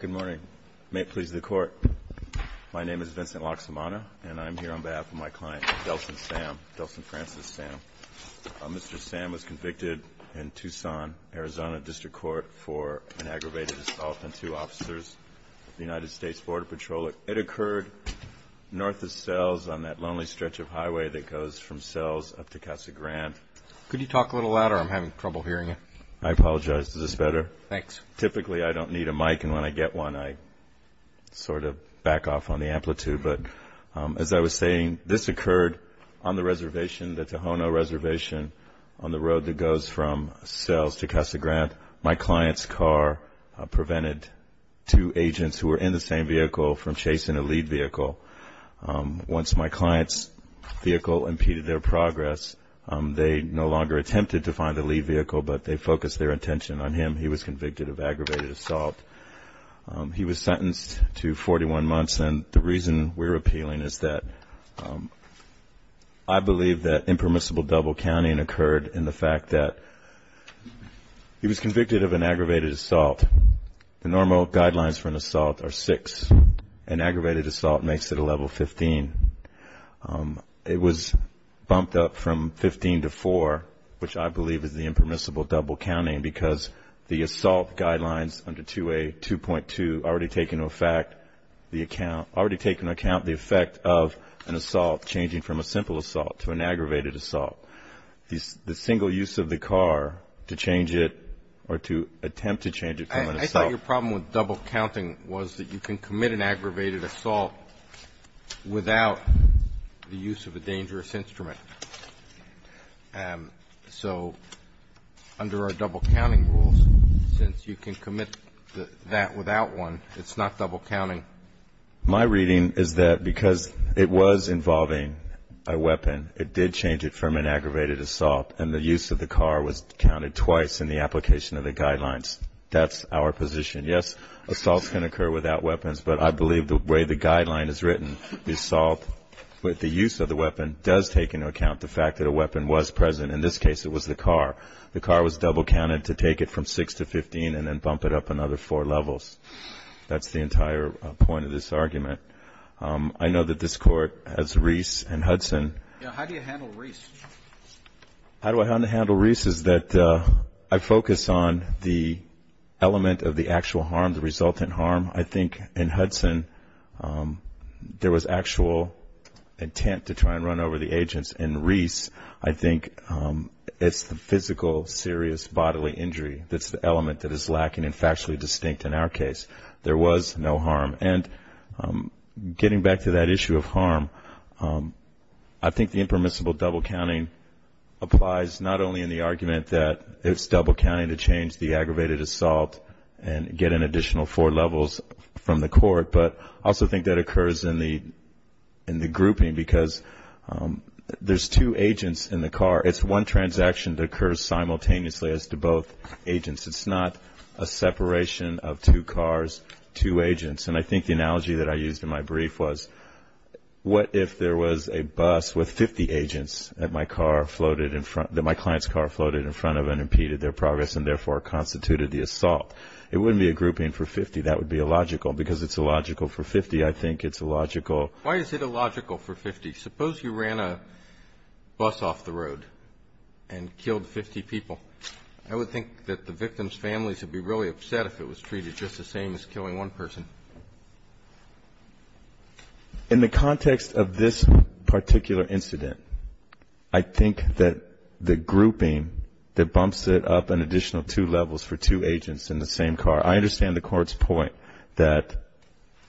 Good morning. May it please the Court, my name is Vincent Loxamana and I'm here on behalf of my client, Delson Sam, Delson Francis Sam. Mr. Sam was convicted in Tucson, Arizona District Court for an aggravated assault on two officers of the United States Border Patrol. It occurred north of Sells on that lonely stretch of highway that goes from Sells up to Casa Grande. Could you talk a little louder? I'm having trouble hearing you. I apologize. Is this better? Thanks. Typically, I don't need a mic and when I get one, I sort of back off on the amplitude. But as I was saying, this occurred on the reservation, the Tohono Reservation, on the road that goes from Sells to Casa Grande. My client's car prevented two agents who were in the same vehicle from chasing a lead vehicle. Once my client's vehicle impeded their progress, they no longer attempted to find the lead vehicle, but they focused their attention on him. He was convicted of aggravated assault. He was sentenced to 41 months and the reason we're appealing is that I believe that impermissible double-counting occurred in the fact that he was convicted of an aggravated assault. The normal guidelines for an assault are six. An aggravated assault makes it a level 15. It was bumped up from 15 to four, which I believe is the impermissible double-counting because the assault guidelines under 2A.2.2 already take into account the effect of an assault changing from a simple assault to an aggravated assault. The single use of the car to change it or to attempt to change it from an assault. I thought your problem with double-counting was that you can commit an aggravated assault without the use of a dangerous instrument. So under our double-counting rules, since you can commit that without one, it's not double-counting. My reading is that because it was involving a weapon, it did change it from an aggravated assault and the use of the car was counted twice in the application of the guidelines. That's our position. Yes, assaults can occur without weapons, but I believe the way the guideline is written, the assault with the use of the weapon does take into account the fact that a weapon was present. In this case, it was the car. The car was double-counted to take it from six to 15 and then bump it up another four levels. That's the entire point of this argument. I know that this Court has Reese and Hudson. How do you handle Reese? How do I handle Reese is that I focus on the element of the actual harm, the resultant harm. I think in Hudson, there was actual intent to try and run over the agents. In Reese, I think it's the physical, serious bodily injury that's the element that is lacking and factually distinct in our case. There was no harm. Getting back to that issue of harm, I think the impermissible double-counting applies not only in the argument that it's double-counting to change the aggravated assault and get an additional four levels from the court, but I also think that occurs in the grouping because there's two agents in the car. It's one transaction that occurs simultaneously as to both agents. It's not a separation of two cars, two agents. And I think the analogy that I used in my brief was what if there was a bus with 50 agents that my car floated in front that my client's car floated in front of and impeded their progress and therefore constituted the assault? It wouldn't be a grouping for 50. That would be illogical because it's illogical for 50. I think it's illogical. Why is it illogical for 50? Suppose you ran a bus off the road and killed 50 people. I would think that the victim's families would be really upset if it was treated just the same as killing one person. In the context of this particular incident, I think that the grouping that bumps it up an additional two levels for two agents in the same car. I understand the Court's point that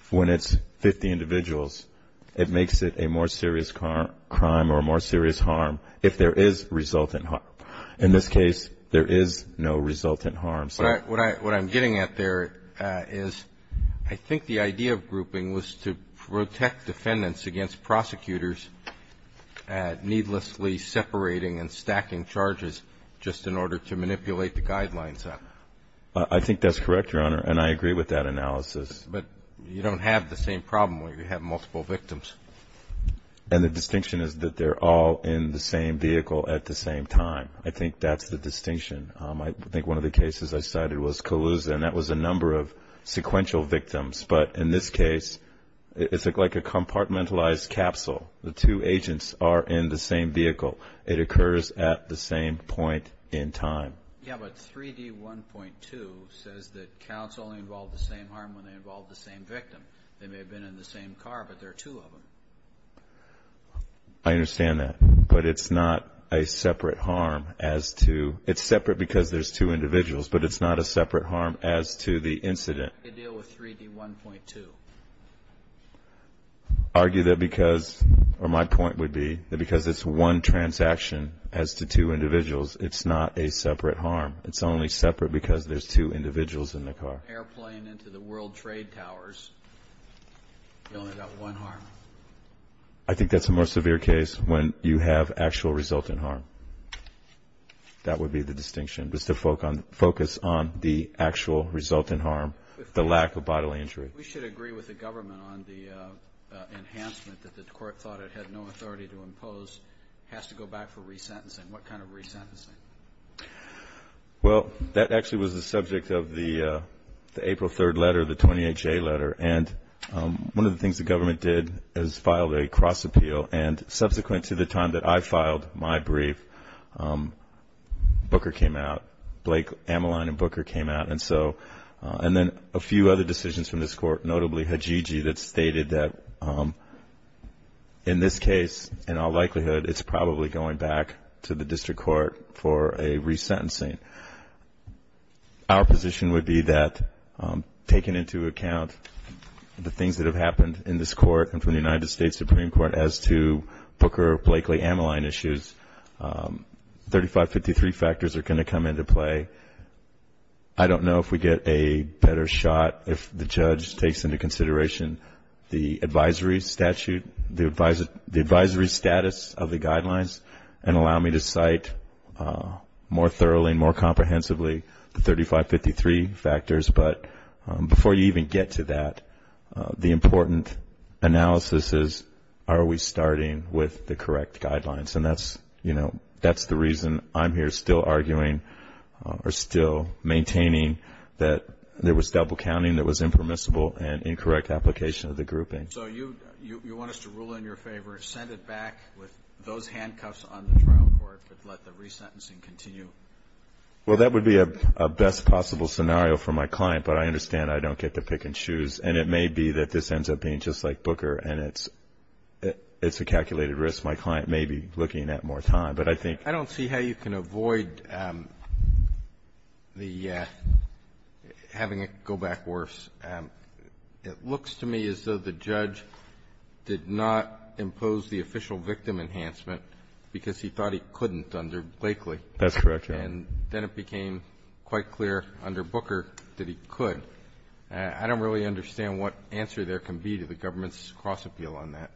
when it's 50 individuals, it makes it a more serious crime or a more serious harm if there is resultant harm. In this case, there is no resultant harm. So what I'm getting at there is I think the idea of grouping was to protect defendants against prosecutors needlessly separating and stacking charges just in order to manipulate the guidelines. I think that's correct, Your Honor, and I agree with that analysis. But you don't have the same problem where you have multiple victims. And the distinction is that they're all in the same vehicle at the same time. I think that's the distinction. I think one of the cases I cited was Calusa, and that was a number of sequential victims. But in this case, it's like a compartmentalized capsule. The two agents are in the same vehicle. It occurs at the same point in time. Yeah, but 3D1.2 says that counts only involve the same harm when they involve the same victim. They may have been in the same car, but there are two of them. I understand that, but it's not a separate harm as to... It's separate because there's two individuals, but it's not a separate harm as to the incident. How do you deal with 3D1.2? My point would be that because it's one transaction as to two individuals, it's not a separate harm. It's only separate because there's two individuals in the car. Airplane into the World Trade Towers, you only got one harm. I think that's a more severe case when you have actual resultant harm. That would be the distinction, just to focus on the actual resultant harm, the lack of bodily injury. We should agree with the government on the enhancement that the court thought it had no authority to impose. It has to go back for resentencing. What kind of resentencing? Well, that actually was the subject of the April 3rd letter, the 28-J letter. One of the things the government did is filed a cross-appeal. Subsequent to the time that I filed my brief, Booker came out. Blake, Ameline, and Booker came out. And then a few other decisions from this court, notably Hajiji, that stated that in this case, in all likelihood, it's probably going back to the district court for a resentencing. Our position would be that taking into account the things that have happened in this court and from the United States Supreme Court as to Booker, Blakely, Ameline issues, 3553 factors are going to come into play. I don't know if we get a better shot if the judge takes into consideration the advisory statute, the advisory status of the guidelines and allow me to cite more thoroughly and more comprehensively the 3553 factors. But before you even get to that, the important analysis is, are we starting with the correct guidelines? And that's, you know, that's the reason I'm here still arguing or still maintaining that there was double counting that was impermissible and incorrect application of the grouping. So you want us to rule in your favor, send it back with those handcuffs on the trial court, but let the resentencing continue? Well, that would be a best possible scenario for my client. But I understand I don't get to pick and choose. And it may be that this ends up being just like Booker and it's a calculated risk. My client may be looking at more time. But I think ---- I don't see how you can avoid the ---- having it go back worse. It looks to me as though the judge did not impose the official victim enhancement because he thought he couldn't under Blakely. That's correct, Your Honor. And then it became quite clear under Booker that he could. I don't really understand what answer there can be to the government's cross-appeal on that.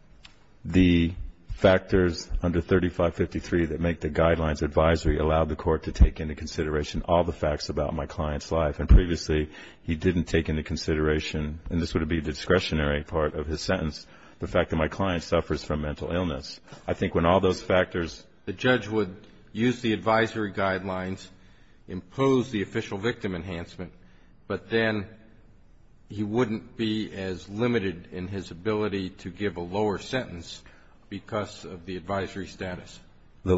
The factors under 3553 that make the guidelines advisory allow the court to take into consideration all the facts about my client's life. And previously, he didn't take into consideration, and this would be a discretionary part of his sentence, the fact that my client suffers from mental illness. I think when all those factors ---- The judge would use the advisory guidelines, impose the official victim enhancement, but then he wouldn't be as limited in his ability to give a lower sentence because of the advisory status. The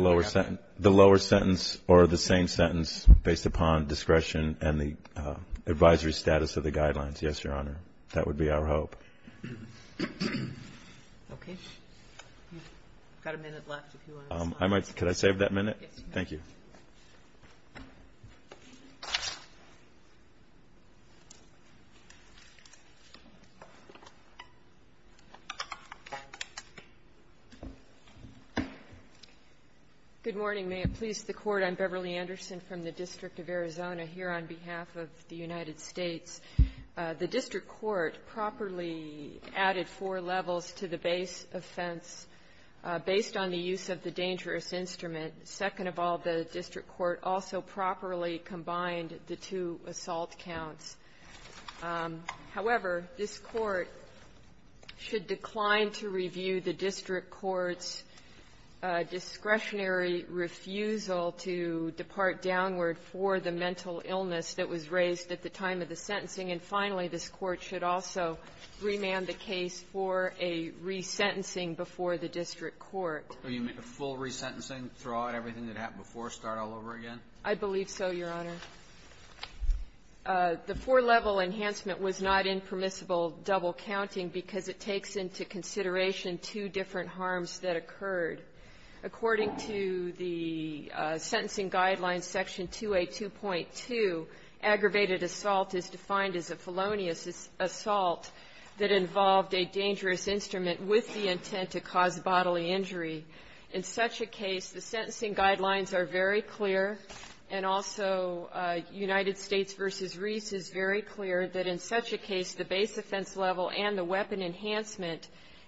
lower sentence or the same sentence based upon discretion and the advisory status of the guidelines. Yes, Your Honor. That would be our hope. Okay. We've got a minute left if you want to respond. Could I save that minute? Yes, you may. Thank you. Good morning. May it please the Court. I'm Beverly Anderson from the District of Arizona here on behalf of the United States. The district court properly added four levels to the base offense based on the use of the dangerous instrument. Second of all, the district court also properly combined the two assault counts. However, this Court should decline to review the district court's discretionary refusal to depart downward for the mental illness that was raised at the time of the sentencing. And finally, this Court should also remand the case for a resentencing before the district court. Do you mean a full resentencing, throw out everything that happened before, start all over again? I believe so, Your Honor. The four-level enhancement was not impermissible double counting because it takes into consideration two different harms that occurred. According to the sentencing guidelines, Section 282.2, aggravated assault is defined as a felonious assault that involved a dangerous instrument with the intent to cause bodily injury. In such a case, the sentencing guidelines are very clear, and also United States v. Reese is very clear that in such a case, the base offense level and the weapon enhancement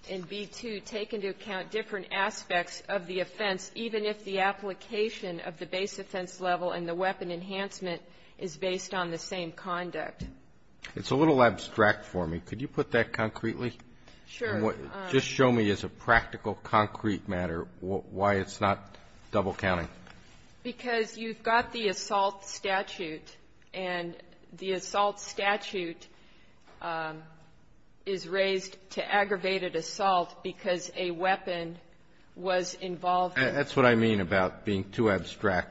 in B-2 take into account different aspects of the offense, even if the application of the base offense level and the weapon enhancement is based on the same conduct. It's a little abstract for me. Could you put that concretely? Sure. Just show me as a practical, concrete matter why it's not double counting. Because you've got the assault statute, and the assault statute is raised to aggravated assault because a weapon was involved in it. That's what I mean about being too abstract.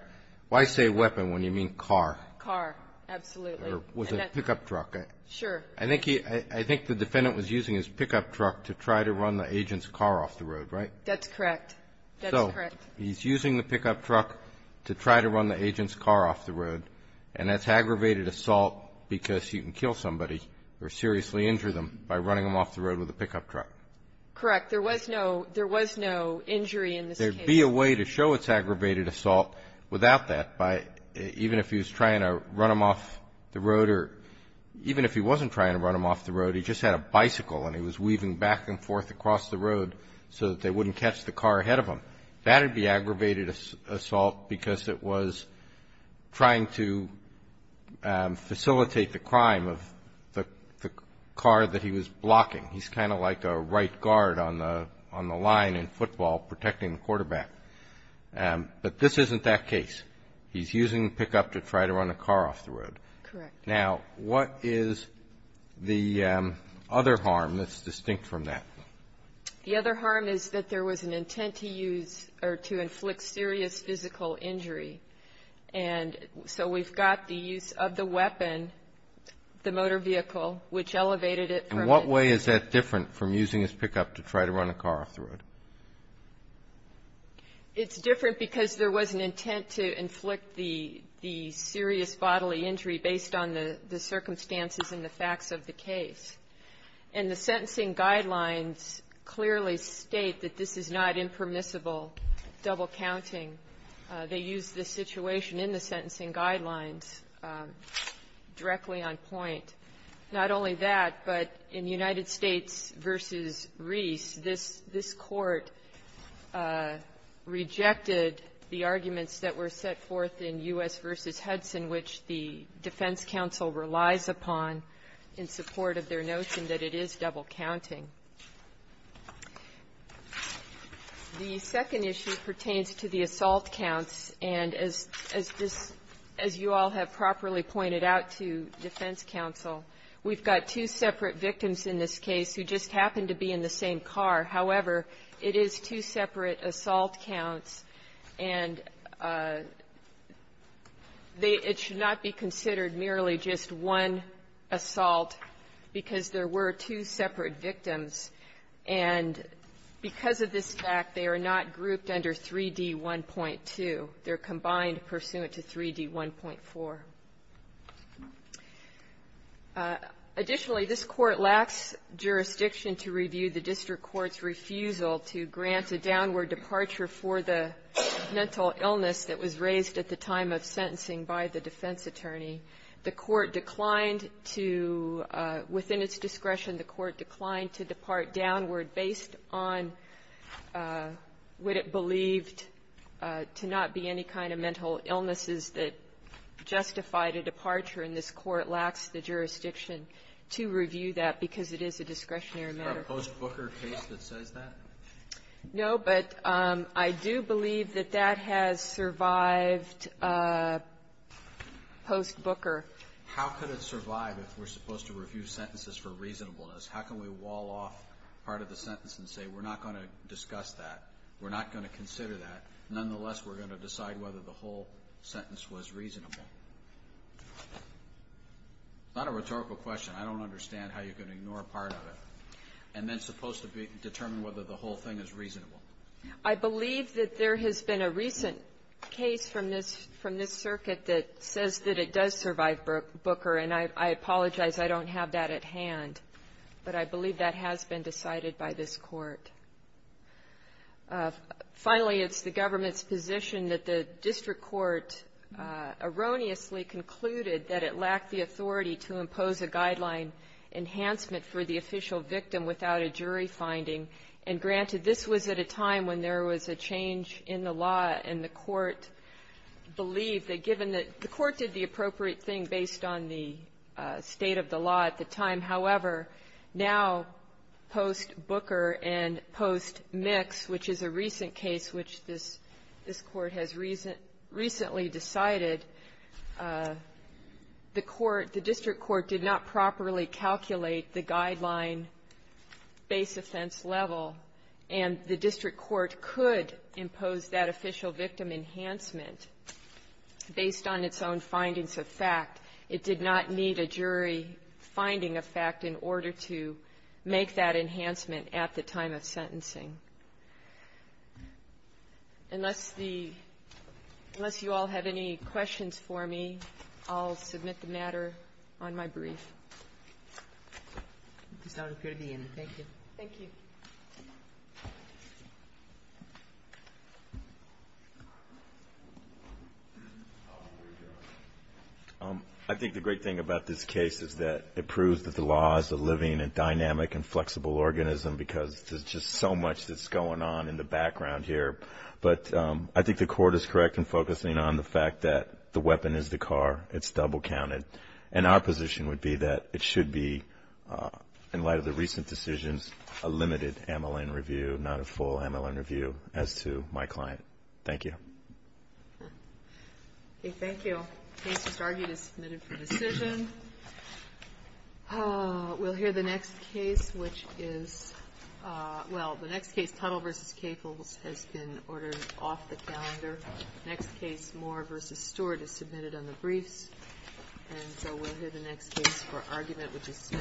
Why say weapon when you mean car? Car, absolutely. Or was it a pickup truck? Sure. I think the defendant was using his pickup truck to try to run the agent's car off the road, right? That's correct. That's correct. So he's using the pickup truck to try to run the agent's car off the road, and that's aggravated assault because he can kill somebody or seriously injure them by running them off the road with a pickup truck. Correct. There was no injury in this case. There would be a way to show it's aggravated assault without that by even if he was trying to run them off the road or even if he wasn't trying to run them off the road, he just had a bicycle and he was weaving back and forth across the road so that they wouldn't catch the car ahead of him. That would be aggravated assault because it was trying to facilitate the crime of the car that he was blocking. He's kind of like a right guard on the line in football protecting the quarterback. But this isn't that case. He's using the pickup to try to run a car off the road. Correct. Now, what is the other harm that's distinct from that? The other harm is that there was an intent to use or to inflict serious physical injury, and so we've got the use of the weapon, the motor vehicle, which elevated it from the... In what way is that different from using his pickup to try to run a car off the road? It's different because there was an intent to inflict the serious bodily injury based on the circumstances and the facts of the case. And the sentencing guidelines clearly state that this is not impermissible double counting. They use this situation in the sentencing guidelines directly on point. Not only that, but in United States v. Reese, this Court rejected the arguments that were set forth in U.S. v. Hudson, which the defense counsel relies upon in support of their notion that it is double counting. The second issue pertains to the assault counts, and as this as you all have properly pointed out to defense counsel, we've got two separate victims in this case who just happen to be in the same car. However, it is two separate assault counts, and it should not be considered merely just one assault because there were two separate victims. And because of this fact, they are not grouped under 3D1.2. They're combined pursuant to 3D1.4. Additionally, this Court lacks jurisdiction to review the district court's refusal to grant a downward departure for the mental illness that was raised at the time of sentencing by the defense attorney. The Court declined to --- within its discretion, the Court declined to depart downward based on what it believed to not be any kind of mental illnesses that justified a departure, and this Court lacks the jurisdiction to review that because it is a discretionary matter. No, but I do believe that that has survived post-Booker. How could it survive if we're supposed to review sentences for reasonableness? How can we wall off part of the sentence and say, we're not going to discuss that, we're not going to consider that, nonetheless, we're going to decide whether the whole sentence was reasonable? It's not a rhetorical question. I don't understand how you can ignore part of it and then supposed to determine whether the whole thing is reasonable. I believe that there has been a recent case from this circuit that says that it does survive Booker, and I apologize. I don't have that at hand. But I believe that has been decided by this Court. Finally, it's the government's position that the district court erroneously concluded that it lacked the authority to impose a guideline enhancement for the official victim without a jury finding. And granted, this was at a time when there was a change in the law, and the Court believed that given that the Court did the appropriate thing based on the state of the law at the time, however, now, post-Booker and post-Mix, which is a recent case which this Court has recently decided, the court, the district court did not properly calculate the guideline base offense level, and the district court could impose that official victim enhancement based on its own findings of fact. It did not need a jury finding of fact in order to make that enhancement at the time of sentencing. Unless the --" unless you all have any questions for me, I'll submit the matter on my brief. Thank you. Thank you. I think the great thing about this case is that it proves that the law is a living and dynamic and flexible organism because there's just so much that's going on in the background here. But I think the Court is correct in focusing on the fact that the weapon is the car. It's double counted. And our position would be that it should be, in light of the recent decisions, a limited MLN review, not a full MLN review, as to my client. Thank you. Okay. Thank you. Case just argued is submitted for decision. We'll hear the next case, which is, well, the next case, Tuttle v. Caples, has been ordered off the calendar. Next case, Moore v. Stewart, is submitted on the briefs. And so we'll hear the next case for argument, which is Smith v. Adams.